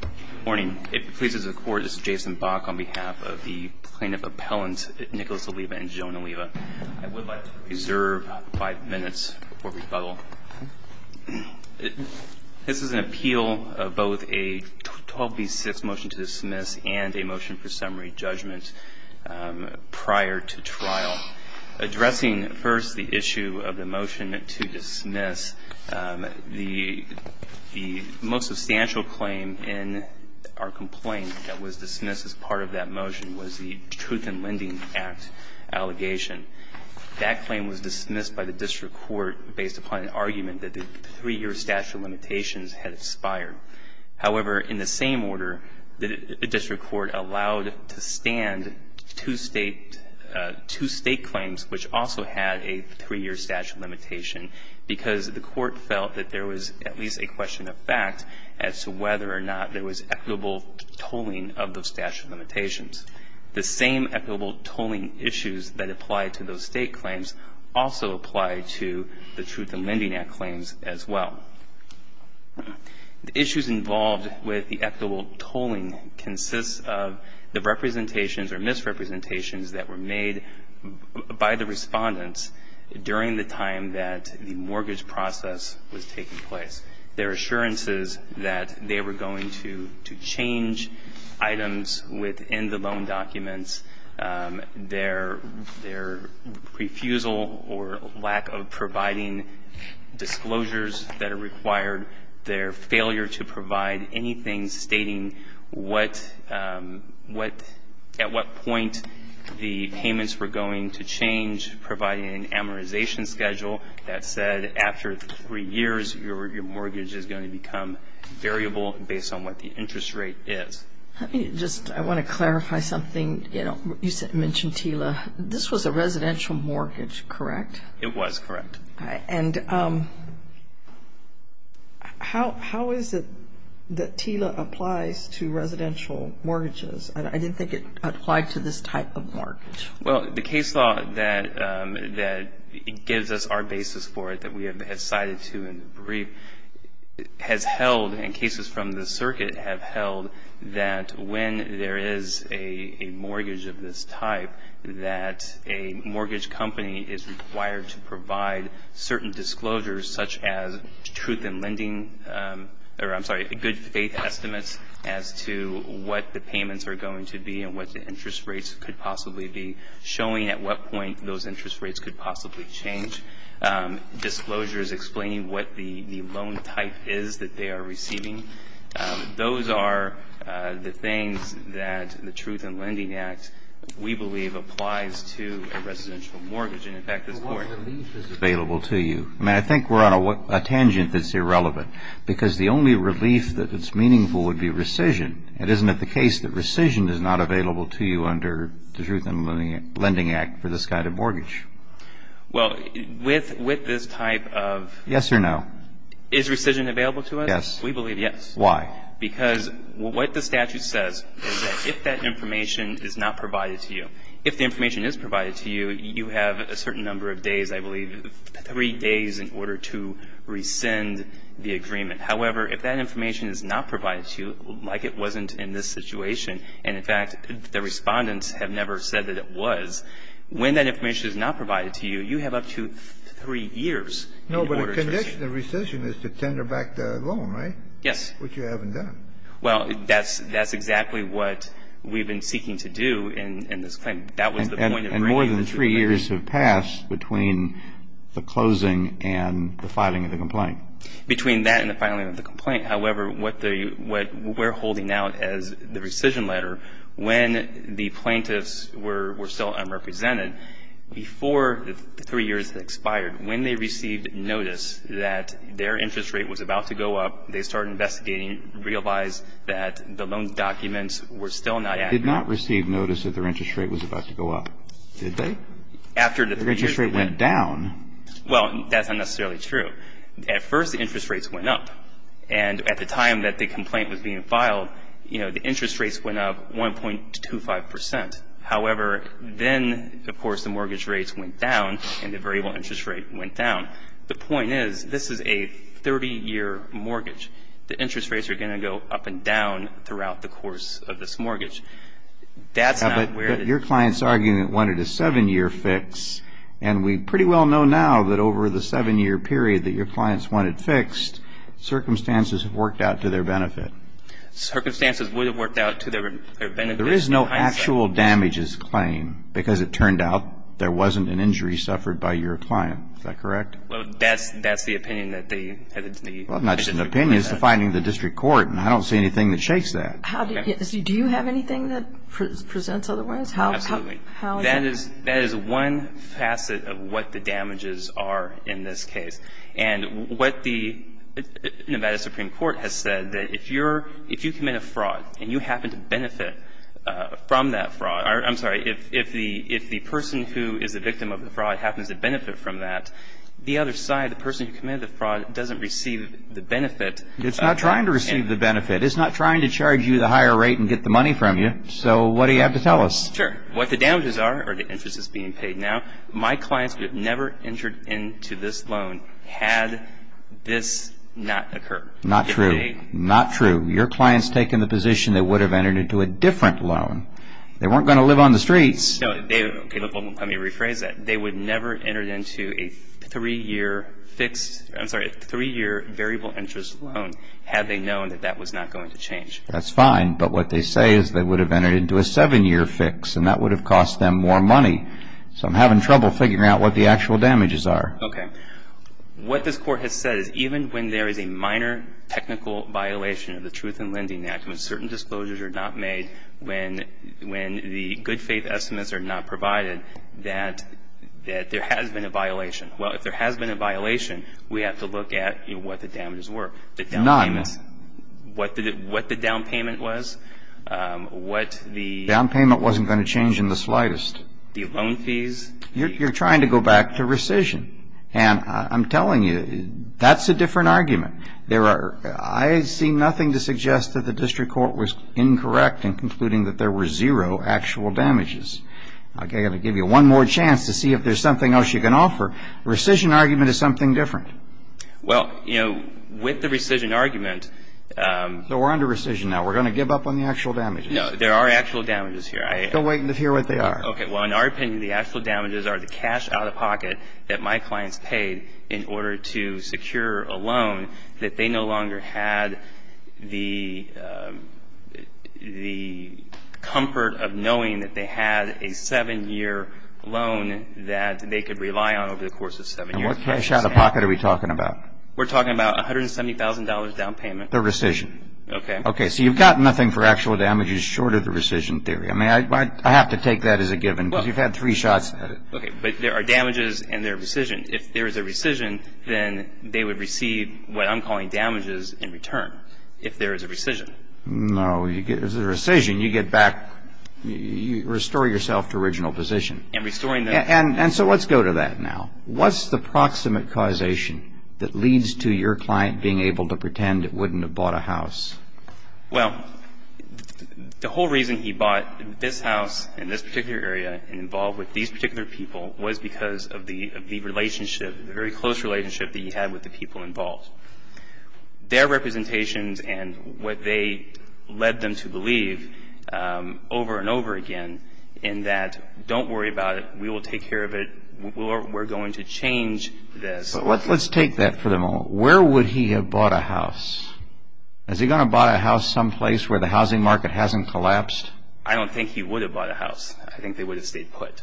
Good morning. It pleases the Court, this is Jason Bach on behalf of the Plaintiff Appellants Nicholas Oliva and Joan Oliva. I would like to reserve five minutes before rebuttal. This is an appeal of both a 12B6 motion to dismiss and a motion for summary judgment prior to trial. Addressing first the issue of the motion to dismiss, the most substantial claim in our complaint that was dismissed as part of that motion was the Truth in Lending Act allegation. That claim was dismissed by the District Court based upon an argument that the three-year statute of limitations had expired. However, in the same order, the District Court allowed to stand two state claims which also had a three-year statute of limitation because the Court felt that there was at least a question of fact as to whether or not there was equitable tolling of those statute of limitations. The same equitable tolling issues that apply to those state claims also apply to the Truth in Lending Act claims as well. The issues involved with the equitable tolling consists of the representations or misrepresentations that were made by the Respondents during the time that the mortgage process was taking place. Their assurances that they were going to change items within the loan documents, their refusal or lack of providing disclosures that are required, their failure to provide anything stating what at what point the payments were going to change, providing an amortization schedule that said after three years, your mortgage is going to become variable based on what the interest rate is. Let me just, I want to clarify something. You mentioned TILA. This was a residential mortgage, correct? It was, correct. And how is it that TILA applies to residential mortgages? I didn't think it applied to this type of mortgage. Well, the case law that gives us our basis for it that we have cited to in the brief has held, and cases from the circuit have held, that when there is a mortgage of this type, that a mortgage company is required to provide certain disclosures such as truth in lending, or I'm sorry, good faith estimates as to what the payments are going to be and what the interest rates could possibly be, showing at what point those interest rates could possibly change, disclosures explaining what the loan type is that they are receiving. Those are the things that the Truth in Lending Act, we believe, applies to a residential mortgage. But what relief is available to you? I mean, I think we're on a tangent that's irrelevant because the only relief that is meaningful would be rescission. It isn't the case that rescission is not available to you under the Truth in Lending Act for this kind of mortgage. Well, with this type of — Yes or no? Is rescission available to us? Yes. We believe yes. Why? Because what the statute says is that if that information is not provided to you, if the information is provided to you, you have a certain number of days, I believe, three days in order to rescind the agreement. However, if that information is not provided to you, like it wasn't in this situation, and, in fact, the Respondents have never said that it was, when that information is not provided to you, you have up to three years in order to rescind. No, but the condition of rescission is to tender back the loan, right? Yes. Which you haven't done. Well, that's exactly what we've been seeking to do in this claim. That was the point of bringing this agreement. And more than three years have passed between the closing and the filing of the complaint. Between that and the filing of the complaint. However, what we're holding out as the rescission letter, when the plaintiffs were still unrepresented, before the three years had expired, when they received notice that their interest rate was about to go up, they started investigating, realized that the loan documents were still not accurate. They did not receive notice that their interest rate was about to go up, did they? After the three years went up. Their interest rate went down. Well, that's not necessarily true. At first, the interest rates went up. And at the time that the complaint was being filed, you know, the interest rates went up 1.25%. However, then, of course, the mortgage rates went down, and the variable interest rate went down. The point is, this is a 30-year mortgage. The interest rates are going to go up and down throughout the course of this mortgage. That's not where the... Now, but your client's arguing that it wanted a seven-year fix. And we pretty well know now that over the seven-year period that your clients wanted fixed, circumstances worked out to their benefit. Circumstances would have worked out to their benefit. There is no actual damages claim, because it turned out there wasn't an injury suffered by your client. Is that correct? Well, that's the opinion that they... Well, not just an opinion. It's the finding of the district court, and I don't see anything that shakes that. Do you have anything that presents otherwise? Absolutely. That is one facet of what the damages are in this case. And what the Nevada Supreme Court has said, that if you commit a fraud and you happen to benefit from that fraud, I'm sorry, if the person who is the victim of the fraud happens to benefit from that, the other side, the person who committed the fraud, doesn't receive the benefit. It's not trying to receive the benefit. It's not trying to charge you the higher rate and get the money from you. So what do you have to tell us? Sure. What the damages are, or the interest that's being paid now, my clients would have never entered into this loan had this not occurred. Not true. Not true. Your clients take in the position they would have entered into a different loan. They weren't going to live on the streets. Let me rephrase that. They would never have entered into a three-year variable interest loan had they known that that was not going to change. That's fine. But what they say is they would have entered into a seven-year fix, and that would have cost them more money. So I'm having trouble figuring out what the actual damages are. Okay. What this Court has said is even when there is a minor technical violation of the Truth in Lending Act, when certain disclosures are not made, when the good faith estimates are not provided, that there has been a violation. Well, if there has been a violation, we have to look at what the damages were. The down payment. What the down payment was. What the down payment wasn't going to change in the slightest. The loan fees. You're trying to go back to rescission. And I'm telling you, that's a different argument. I see nothing to suggest that the District Court was incorrect in concluding that there were zero actual damages. I'm going to give you one more chance to see if there's something else you can offer. The rescission argument is something different. Well, you know, with the rescission argument. So we're under rescission now. We're going to give up on the actual damages. No. There are actual damages here. Don't wait until you hear what they are. Okay. Well, in our opinion, the actual damages are the cash out-of-pocket that my clients paid in order to secure a loan that they no longer had the comfort of knowing that they had a seven-year loan that they could rely on over the course of seven years. What cash out-of-pocket are we talking about? We're talking about $170,000 down payment. The rescission. Okay. Okay. So you've got nothing for actual damages short of the rescission theory. I mean, I have to take that as a given because you've had three shots at it. Okay. But there are damages and there are rescissions. If there is a rescission, then they would receive what I'm calling damages in return if there is a rescission. No. If there's a rescission, you get back – you restore yourself to original position. And restoring the – And so let's go to that now. What's the proximate causation that leads to your client being able to pretend it wouldn't have bought a house? Well, the whole reason he bought this house in this particular area and involved with these particular people was because of the relationship, the very close relationship that he had with the people involved. Their representations and what they led them to believe over and over again in that don't worry about it. We will take care of it. We're going to change this. But let's take that for the moment. Where would he have bought a house? Is he going to have bought a house someplace where the housing market hasn't collapsed? I don't think he would have bought a house. I think they would have stayed put.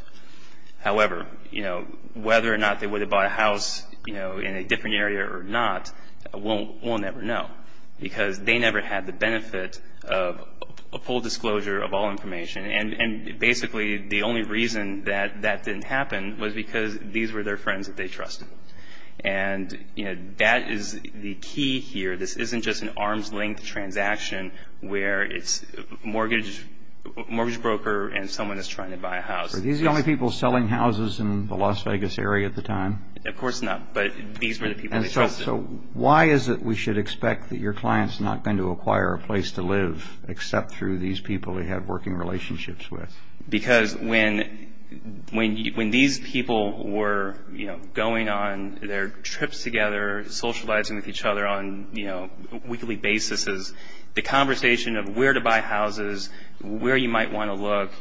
However, you know, whether or not they would have bought a house, you know, in a different area or not, we'll never know because they never had the benefit of a full disclosure of all information. And basically, the only reason that that didn't happen was because these were their friends that they trusted. And, you know, that is the key here. This isn't just an arm's-length transaction where it's a mortgage broker and someone is trying to buy a house. Were these the only people selling houses in the Las Vegas area at the time? Of course not, but these were the people they trusted. So why is it we should expect that your client's not going to acquire a place to live except through these people they had working relationships with? Because when these people were, you know, going on their trips together, socializing with each other on, you know, weekly basis, the conversation of where to buy houses, where you might want to look,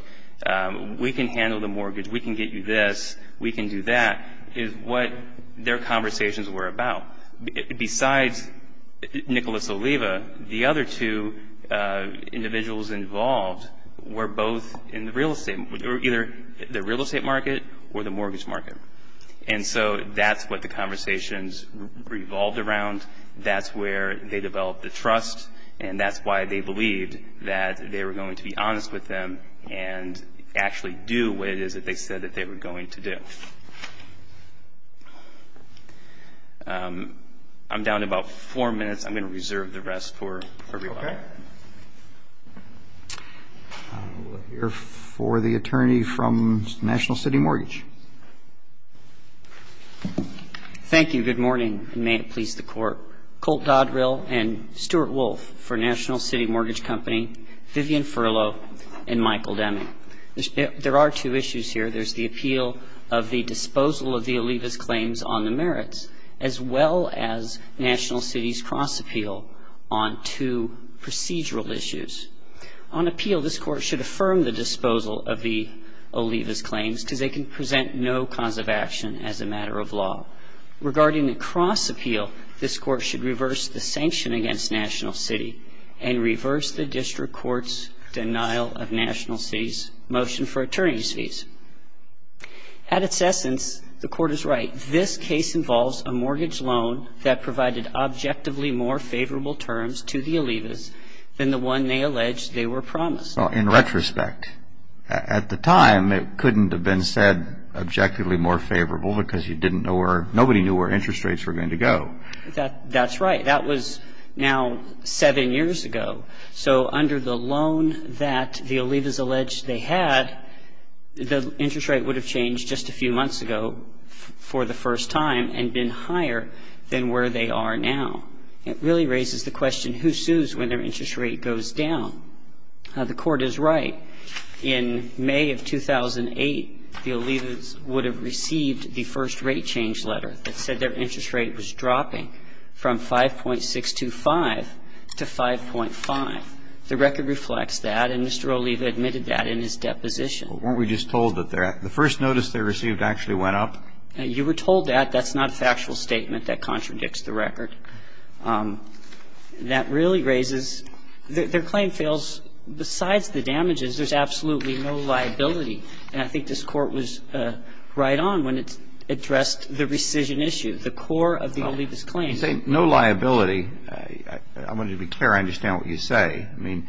we can handle the mortgage, we can get you this, we can do that is what their conversations were about. Besides Nicholas Oliva, the other two individuals involved were both in the real estate, either the real estate market or the mortgage market. And so that's what the conversations revolved around. That's where they developed the trust, and that's why they believed that they were going to be honest with them and actually do what it is that they said that they were going to do. I'm down to about four minutes. I'm going to reserve the rest for everybody. Okay. We'll hear for the attorney from National City Mortgage. Thank you. Good morning, and may it please the Court. This is a cross-appeal. There are two issues here. There's the appeal of the disposal of the Oliva's claims on the merits, as well as National City's cross-appeal on two procedural issues. On appeal, this Court should affirm the disposal of the Oliva's claims because they can present no cause of action as a matter of law. The Court should reverse the sanction against National City and reverse the District Court's denial of National City's motion for attorney's fees. At its essence, the Court is right. This case involves a mortgage loan that provided objectively more favorable terms to the Oliva's than the one they alleged they were promised. In retrospect, at the time it couldn't have been said objectively more favorable because nobody knew where interest rates were going to go. That's right. That was now seven years ago. So under the loan that the Oliva's alleged they had, the interest rate would have changed just a few months ago for the first time and been higher than where they are now. It really raises the question, who sues when their interest rate goes down? The Court is right. In May of 2008, the Oliva's would have received the first rate change letter that said their interest rate was dropping from 5.625 to 5.5. The record reflects that, and Mr. Oliva admitted that in his deposition. Weren't we just told that the first notice they received actually went up? You were told that. That's not a factual statement that contradicts the record. I'm not going to go into the details of the Oliva's claim. the claim that the Oliva's claim failed, that really raises their claim fails. Besides the damages, there's absolutely no liability. And I think this Court was right on when it addressed the rescission issue, the core of the Oliva's claim. You say no liability. I wanted to be clear. I understand what you say. I mean,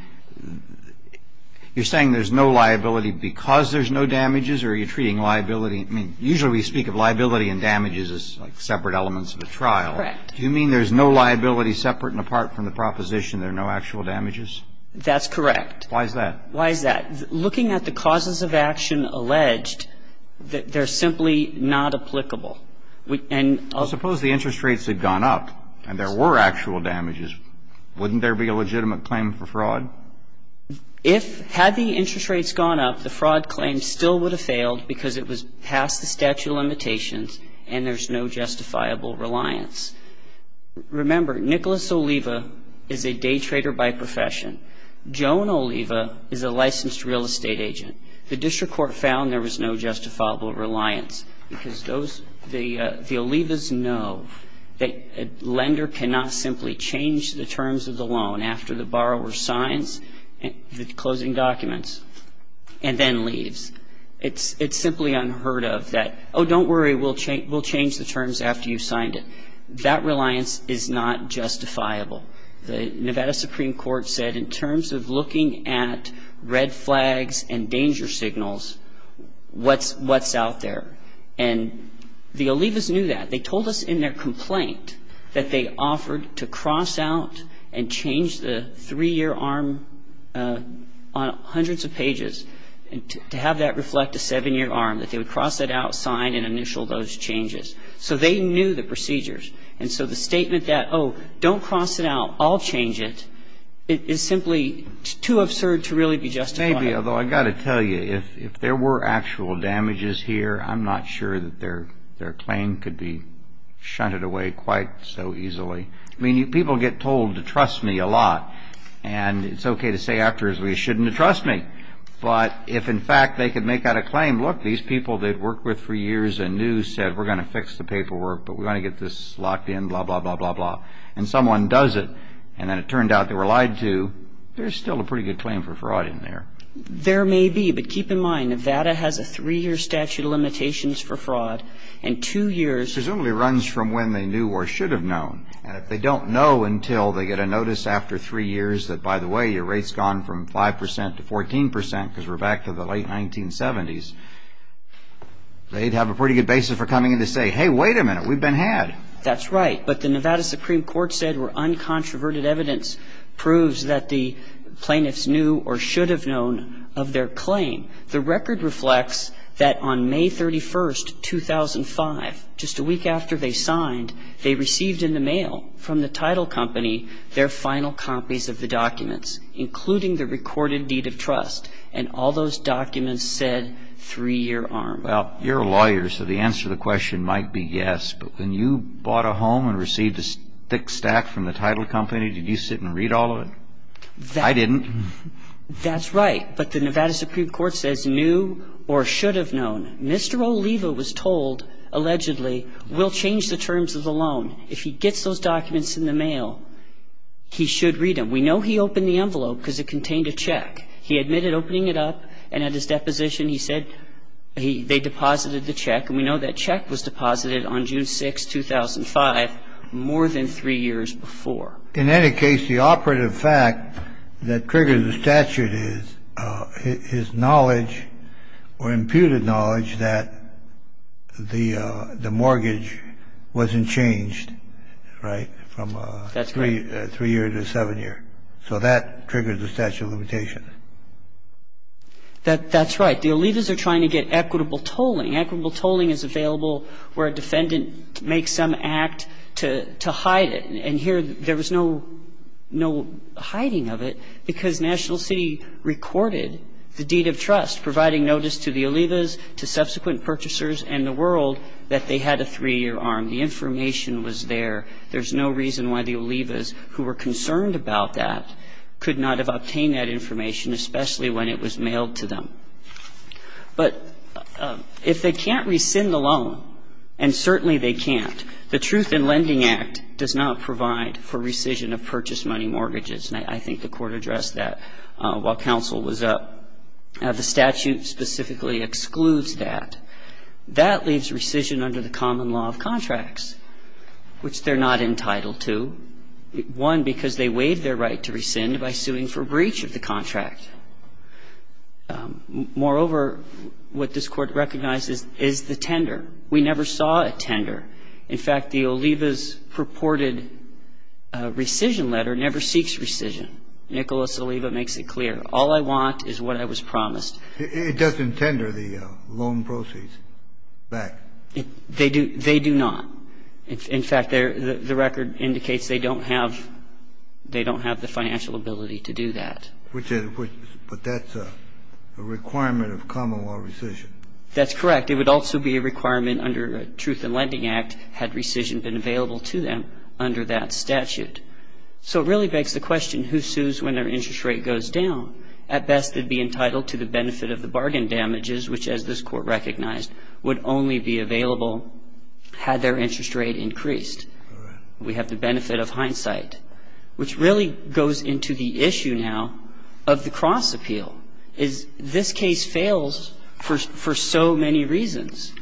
you're saying there's no liability because there's no damages, or are you treating liability? I mean, usually we speak of liability and damages as, like, separate elements of a trial. Correct. Do you mean there's no liability separate and apart from the proposition there are no actual damages? That's correct. Why is that? Why is that? Looking at the causes of action alleged, they're simply not applicable. And I'll suppose the interest rates had gone up and there were actual damages. Wouldn't there be a legitimate claim for fraud? If, had the interest rates gone up, the fraud claim still would have failed because it was past the statute of limitations and there's no justifiable reliance. Remember, Nicholas Oliva is a day trader by profession. Joan Oliva is a licensed real estate agent. The district court found there was no justifiable reliance because those, the Oliva's know that a lender cannot simply change the terms of the loan after the borrower signs the closing documents and then leaves. It's simply unheard of that, oh, don't worry, we'll change the terms after you've signed it. That reliance is not justifiable. The Nevada Supreme Court said in terms of looking at red flags and danger signals, what's out there? And the Oliva's knew that. They told us in their complaint that they offered to cross out and change the three-year arm on hundreds of pages to have that reflect a seven-year arm, that they would cross that out, sign, and initial those changes. So they knew the procedures. And so the statement that, oh, don't cross it out, I'll change it, is simply too absurd to really be justified. Maybe, although I've got to tell you, if there were actual damages here, I'm not sure that their claim could be shunted away quite so easily. I mean, people get told to trust me a lot. And it's okay to say actors we shouldn't trust me. But if, in fact, they could make out a claim, look, these people they've worked with for years and knew said we're going to fix the paperwork, but we want to get this locked in, blah, blah, blah, blah, blah, and someone does it, and then it turned out they were lied to, there's still a pretty good claim for fraud in there. There may be. But keep in mind, Nevada has a three-year statute of limitations for fraud. And two years ---- Presumably runs from when they knew or should have known. And if they don't know until they get a notice after three years that, by the way, your rate's gone from 5 percent to 14 percent because we're back to the late 1970s, they'd have a pretty good basis for coming in to say, hey, wait a minute, we've been had. That's right. But the Nevada Supreme Court said where uncontroverted evidence proves that the claim, the record reflects that on May 31st, 2005, just a week after they signed, they received in the mail from the title company their final copies of the documents, including the recorded deed of trust. And all those documents said three-year arm. Well, you're a lawyer, so the answer to the question might be yes, but when you bought a home and received a thick stack from the title company, did you sit and read all of it? I didn't. That's right. But the Nevada Supreme Court says knew or should have known. Mr. Oliva was told, allegedly, we'll change the terms of the loan. If he gets those documents in the mail, he should read them. We know he opened the envelope because it contained a check. He admitted opening it up, and at his deposition he said they deposited the check. And we know that check was deposited on June 6, 2005, more than three years before. In any case, the operative fact that triggers the statute is his knowledge or imputed knowledge that the mortgage wasn't changed, right, from three years to seven years. So that triggers the statute of limitations. That's right. The Olivas are trying to get equitable tolling. Equitable tolling is available where a defendant makes some act to hide it. And here there was no hiding of it because National City recorded the deed of trust, providing notice to the Olivas, to subsequent purchasers, and the world that they had a three-year arm. The information was there. There's no reason why the Olivas, who were concerned about that, could not have obtained that information, especially when it was mailed to them. But if they can't rescind the loan, and certainly they can't, the Truth in Lending Act does not provide for rescission of purchase money mortgages. And I think the Court addressed that while counsel was up. The statute specifically excludes that. That leaves rescission under the common law of contracts, which they're not entitled to, one, because they waived their right to rescind by suing for breach of the contract. Moreover, what this Court recognizes is the tender. We never saw a tender. In fact, the Olivas' purported rescission letter never seeks rescission. Nicholas Oliva makes it clear. All I want is what I was promised. It doesn't tender the loan proceeds back. They do not. In fact, the record indicates they don't have the financial ability to do that. But that's a requirement of common law rescission. That's correct. It would also be a requirement under Truth in Lending Act had rescission been available to them under that statute. So it really begs the question, who sues when their interest rate goes down? At best, they'd be entitled to the benefit of the bargain damages, which, as this Court recognized, would only be available had their interest rate increased. We have the benefit of hindsight, which really goes into the issue now of the cross appeal, is this case fails for so many reasons.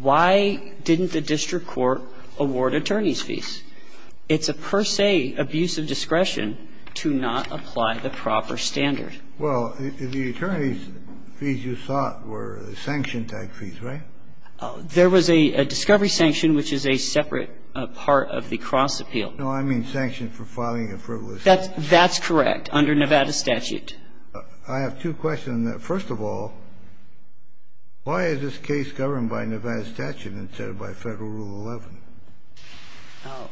Why didn't the district court award attorneys' fees? It's a per se abuse of discretion to not apply the proper standard. Well, the attorneys' fees, you thought, were sanction-type fees, right? There was a discovery sanction, which is a separate part of the cross appeal. No, I mean sanction for filing a frivolous case. That's correct, under Nevada statute. I have two questions on that. First of all, why is this case governed by Nevada statute instead of by Federal Rule 11?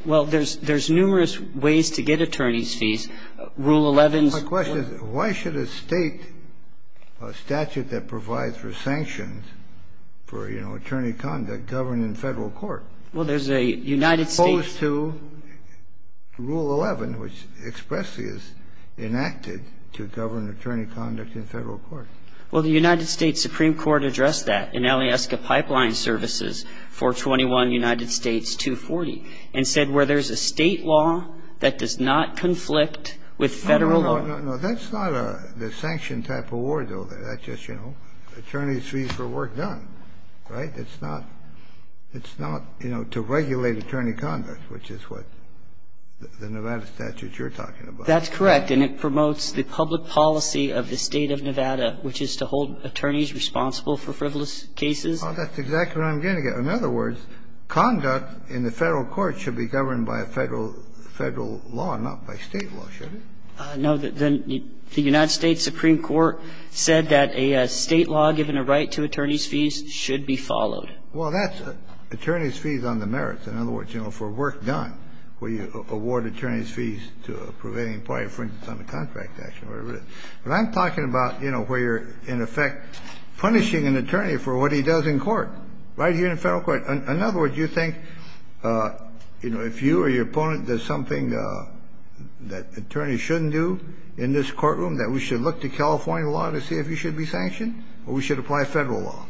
Well, there's numerous ways to get attorneys' fees. Rule 11's ---- My question is, why should a State statute that provides for sanctions for, you know, attorney conduct, govern in Federal court? Well, there's a United States ---- Well, the United States Supreme Court addressed that in Alieska Pipeline Services for 21 United States 240 and said where there's a State law that does not conflict with Federal law. No, no, no. That's not the sanction-type award, though. That's just, you know, attorneys' fees for work done, right? It's not, you know, to regulate attorney conduct, which is what the Nevada statute you're talking about. That's correct. And it promotes the public policy of the State of Nevada, which is to hold attorneys responsible for frivolous cases. Oh, that's exactly what I'm getting at. In other words, conduct in the Federal court should be governed by a Federal law, not by State law, should it? No, the United States Supreme Court said that a State law given a right to attorney's fees should be followed. Well, that's attorneys' fees on the merits. In other words, you know, for work done, where you award attorneys' fees to a prevailing party, for instance, on a contract action, whatever it is. But I'm talking about, you know, where you're, in effect, punishing an attorney for what he does in court, right here in the Federal court. In other words, you think, you know, if you or your opponent does something that attorneys shouldn't do in this courtroom, that we should look to California law to see if he should be sanctioned, or we should apply Federal law?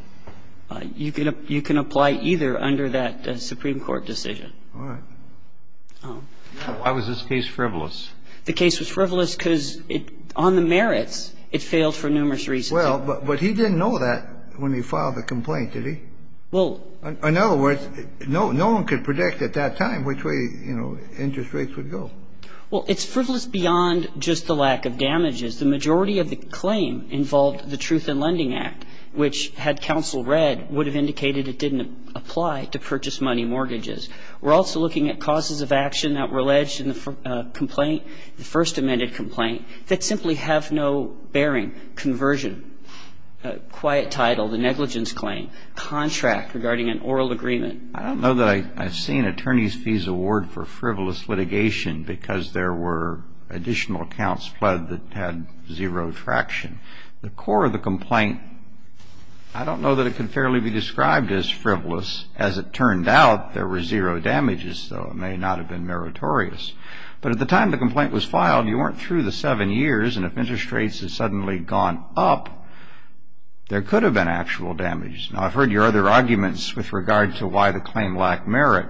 You can apply either under that Supreme Court decision. All right. Why was this case frivolous? The case was frivolous because on the merits, it failed for numerous reasons. Well, but he didn't know that when he filed the complaint, did he? Well. In other words, no one could predict at that time which way, you know, interest rates would go. Well, it's frivolous beyond just the lack of damages. The majority of the claim involved the Truth in Lending Act, which, had counsel read, would have indicated it didn't apply to purchase money mortgages. We're also looking at causes of action that were alleged in the complaint, the first amended complaint, that simply have no bearing. Conversion, quiet title, the negligence claim, contract regarding an oral agreement. I don't know that I've seen attorneys' fees award for frivolous litigation because there were additional accounts pledged that had zero traction. The core of the complaint, I don't know that it could fairly be described as frivolous. As it turned out, there were zero damages, so it may not have been meritorious. But at the time the complaint was filed, you weren't through the seven years, and if interest rates had suddenly gone up, there could have been actual damages. Now, I've heard your other arguments with regard to why the claim lacked merit,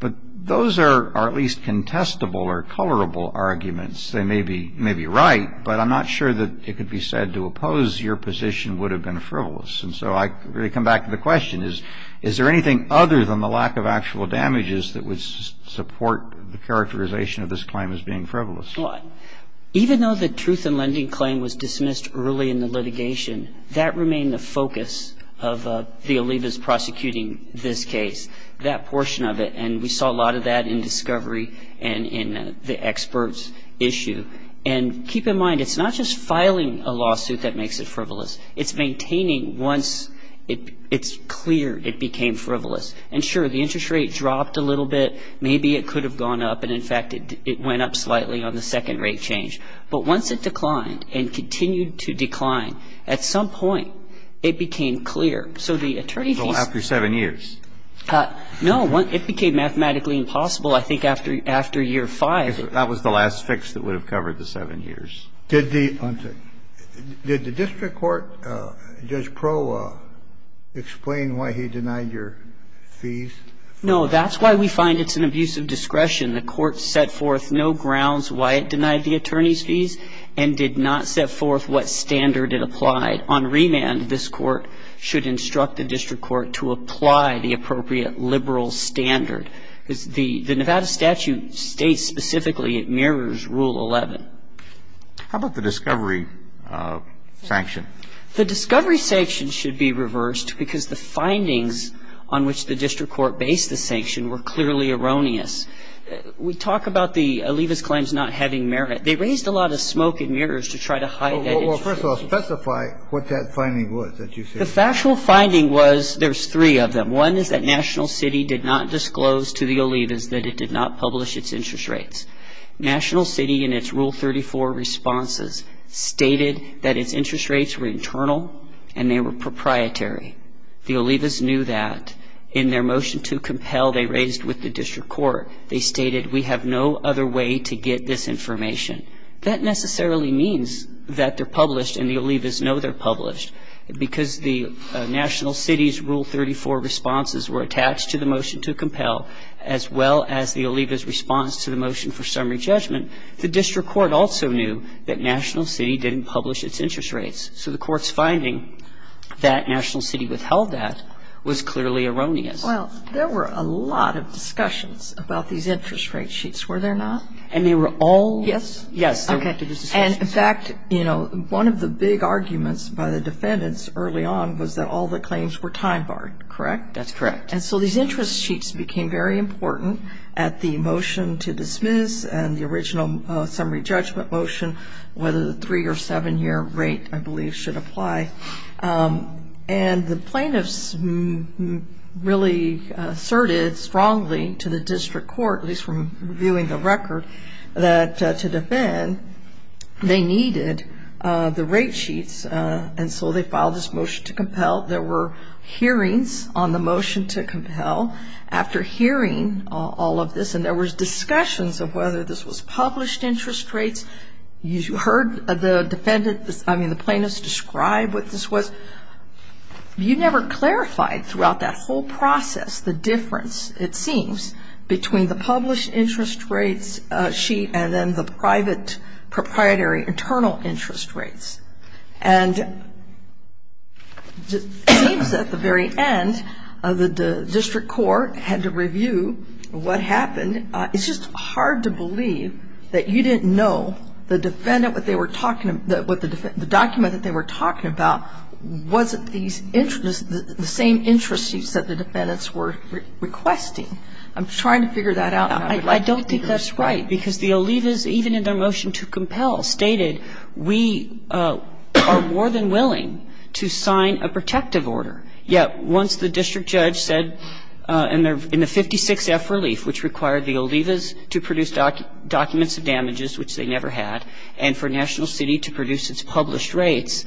but those are at least contestable or colorable arguments. They may be right, but I'm not sure that it could be said to oppose your position would have been frivolous. And so I really come back to the question, is there anything other than the lack of actual damages that would support the characterization of this claim as being frivolous? Well, even though the truth in lending claim was dismissed early in the litigation, that remained the focus of the alibis prosecuting this case. That portion of it, and we saw a lot of that in discovery and in the expert's issue. And keep in mind, it's not just filing a lawsuit that makes it frivolous. It's maintaining once it's cleared, it became frivolous. And sure, the interest rate dropped a little bit. Maybe it could have gone up, and in fact, it went up slightly on the second rate change. But once it declined and continued to decline, at some point it became clear. So the attorney fees No. It became mathematically impossible, I think, after year five. That was the last fix that would have covered the seven years. Did the district court, Judge Pro, explain why he denied your fees? No. That's why we find it's an abuse of discretion. The court set forth no grounds why it denied the attorney's fees and did not set forth what standard it applied. I think it's fair to say that if the district court were to apply it on remand, this court should instruct the district court to apply the appropriate liberal standard. The Nevada statute states specifically it mirrors Rule 11. How about the discovery sanction? The discovery sanction should be reversed because the findings on which the district court based the sanction were clearly erroneous. We talk about the Olivas claims not having merit. They raised a lot of smoke and mirrors to try to hide that. Well, first of all, specify what that finding was that you said. The factual finding was there's three of them. One is that National City did not disclose to the Olivas that it did not publish its interest rates. National City in its Rule 34 responses stated that its interest rates were internal and they were proprietary. The Olivas knew that. In their motion to compel, they raised with the district court, they stated we have no other way to get this information. That necessarily means that they're published and the Olivas know they're published. Because the National City's Rule 34 responses were attached to the motion to compel as well as the Olivas' response to the motion for summary judgment, the district court also knew that National City didn't publish its interest rates. So the court's finding that National City withheld that was clearly erroneous. Well, there were a lot of discussions about these interest rate sheets, were there not? And they were all. Yes. Yes. Okay. And, in fact, you know, one of the big arguments by the defendants early on was that all the claims were time-barred, correct? That's correct. And so these interest sheets became very important at the motion to dismiss and the Olivas should apply. And the plaintiffs really asserted strongly to the district court, at least from reviewing the record, that to defend, they needed the rate sheets. And so they filed this motion to compel. There were hearings on the motion to compel. After hearing all of this, and there was discussions of whether this was published interest rates. You heard the defendant, I mean the plaintiffs, describe what this was. You never clarified throughout that whole process the difference, it seems, between the published interest rates sheet and then the private proprietary internal interest rates. And it seems at the very end the district court had to review what happened. And it's just hard to believe that you didn't know the defendant, what they were talking about, the document that they were talking about, wasn't the same interest sheets that the defendants were requesting. I'm trying to figure that out. I don't think that's right. Because the Olivas, even in their motion to compel, stated we are more than willing to sign a protective order. Yeah. Once the district judge said in the 56F relief, which required the Olivas to produce documents of damages, which they never had, and for National City to produce its published rates,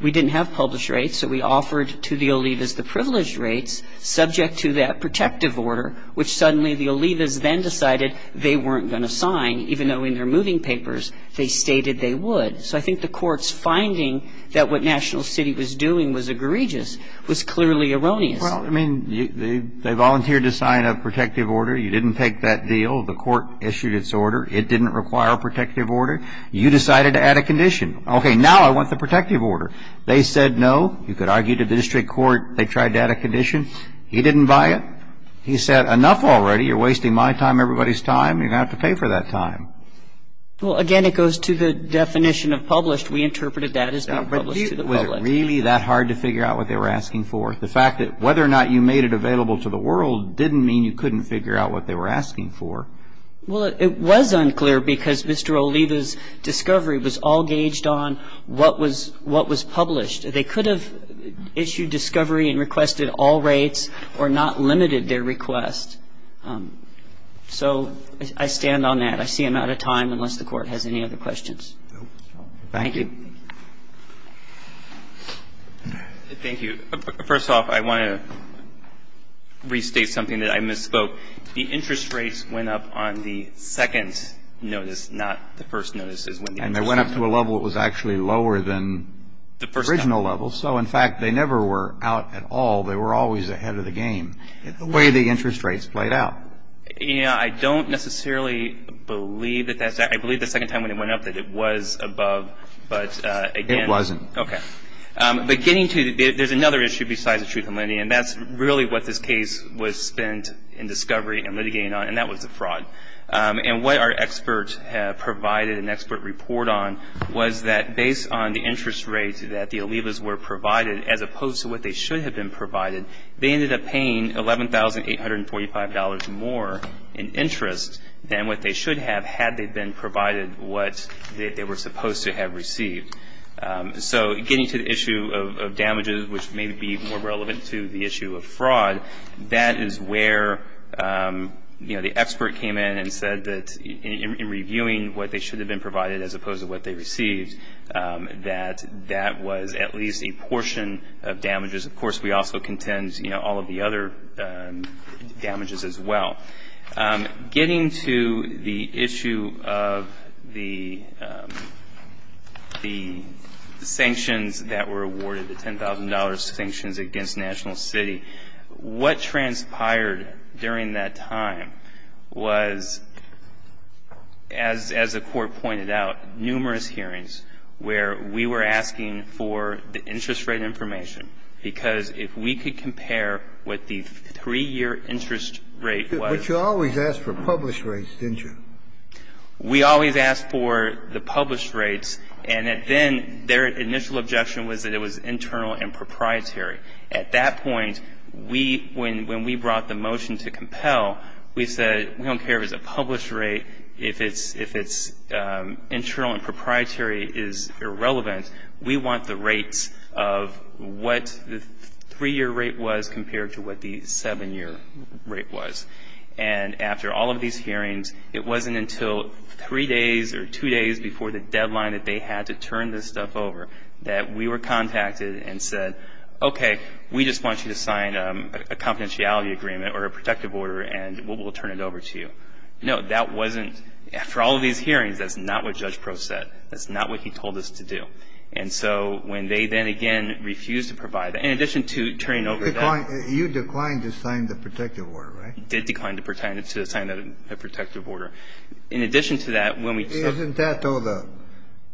we didn't have published rates, so we offered to the Olivas the privileged rates subject to that protective order, which suddenly the Olivas then decided they weren't going to sign, even though in their moving papers they stated they would. So I think the court's finding that what National City was doing was egregious was clearly erroneous. Well, I mean, they volunteered to sign a protective order. You didn't take that deal. The court issued its order. It didn't require a protective order. You decided to add a condition. Okay, now I want the protective order. They said no. You could argue to the district court they tried to add a condition. He didn't buy it. He said enough already. You're wasting my time, everybody's time. You're going to have to pay for that time. Well, again, it goes to the definition of published. We interpreted that as being published to the public. Was it really that hard to figure out what they were asking for? The fact that whether or not you made it available to the world didn't mean you couldn't figure out what they were asking for. Well, it was unclear because Mr. Oliva's discovery was all gauged on what was published. They could have issued discovery and requested all rates or not limited their request. So I stand on that. I see I'm out of time unless the Court has any other questions. Thank you. Thank you. First off, I want to restate something that I misspoke. The interest rates went up on the second notice, not the first notice. And they went up to a level that was actually lower than the original level. So, in fact, they never were out at all. They were always ahead of the game, the way the interest rates played out. You know, I don't necessarily believe that that's the case. I believe the second time when it went up that it was above. But, again. It wasn't. Okay. There's another issue besides the truth in lending, and that's really what this case was spent in discovery and litigating on, and that was the fraud. And what our experts have provided an expert report on was that based on the interest rates that the Olivas were provided, as opposed to what they should have been more in interest than what they should have had they been provided what they were supposed to have received. So, getting to the issue of damages, which may be more relevant to the issue of fraud, that is where, you know, the expert came in and said that in reviewing what they should have been provided as opposed to what they received, that that was at least a portion of damages. Of course, we also contend, you know, all of the other damages as well. Getting to the issue of the sanctions that were awarded, the $10,000 sanctions against National City, what transpired during that time was, as the court pointed out, numerous hearings where we were asking for the interest rate information, because if we could compare what the 3-year interest rate was. Scalia, but you always asked for published rates, didn't you? We always asked for the published rates, and then their initial objection was that it was internal and proprietary. At that point, we, when we brought the motion to compel, we said we don't care if it's internal and proprietary is irrelevant. We want the rates of what the 3-year rate was compared to what the 7-year rate was. And after all of these hearings, it wasn't until three days or two days before the deadline that they had to turn this stuff over that we were contacted and said, okay, we just want you to sign a confidentiality agreement or a protective order, and we'll turn it over to you. No, that wasn't – after all of these hearings, that's not what Judge Proe said. That's not what he told us to do. And so when they then again refused to provide that, in addition to turning over that – You declined to sign the protective order, right? We did decline to sign a protective order. In addition to that, when we – Isn't that, though, the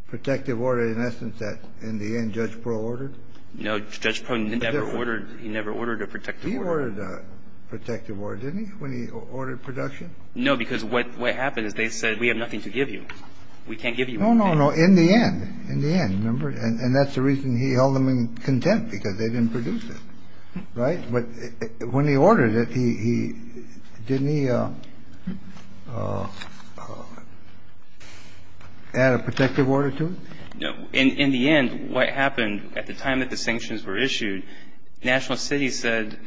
protective order, in essence, that in the end Judge Proe ordered? No, Judge Proe never ordered – he never ordered a protective order. He ordered a protective order, didn't he, when he ordered production? No, because what happened is they said, we have nothing to give you. We can't give you anything. No, no, no. In the end, in the end. Remember? And that's the reason he held them in contempt, because they didn't produce it. Right? But when he ordered it, he – didn't he add a protective order to it? No. In the end, what happened at the time that the sanctions were issued, National City said,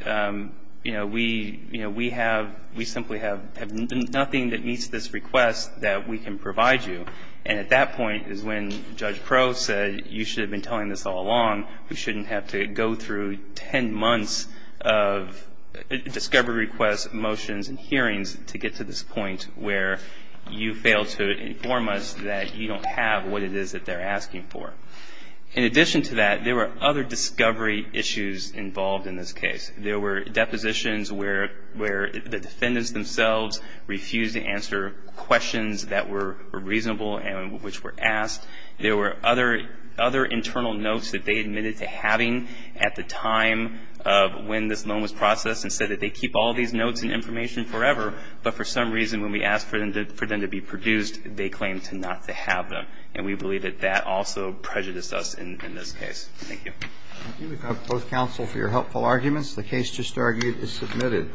you know, we – you know, we have – we simply have nothing that meets this request that we can provide you. And at that point is when Judge Proe said, you should have been telling this all along. We shouldn't have to go through 10 months of discovery requests, motions, and hearings to get to this point where you fail to inform us that you don't have what it is that they're asking for. In addition to that, there were other discovery issues involved in this case. There were depositions where the defendants themselves refused to answer questions that were reasonable and which were asked. There were other internal notes that they admitted to having at the time of when this loan was processed and said that they keep all these notes and information forever, but for some reason when we asked for them to be produced, they claimed to not to have them. And we believe that that also prejudiced us in this case. Thank you. Thank you, both counsel, for your helpful arguments. The case just argued is submitted.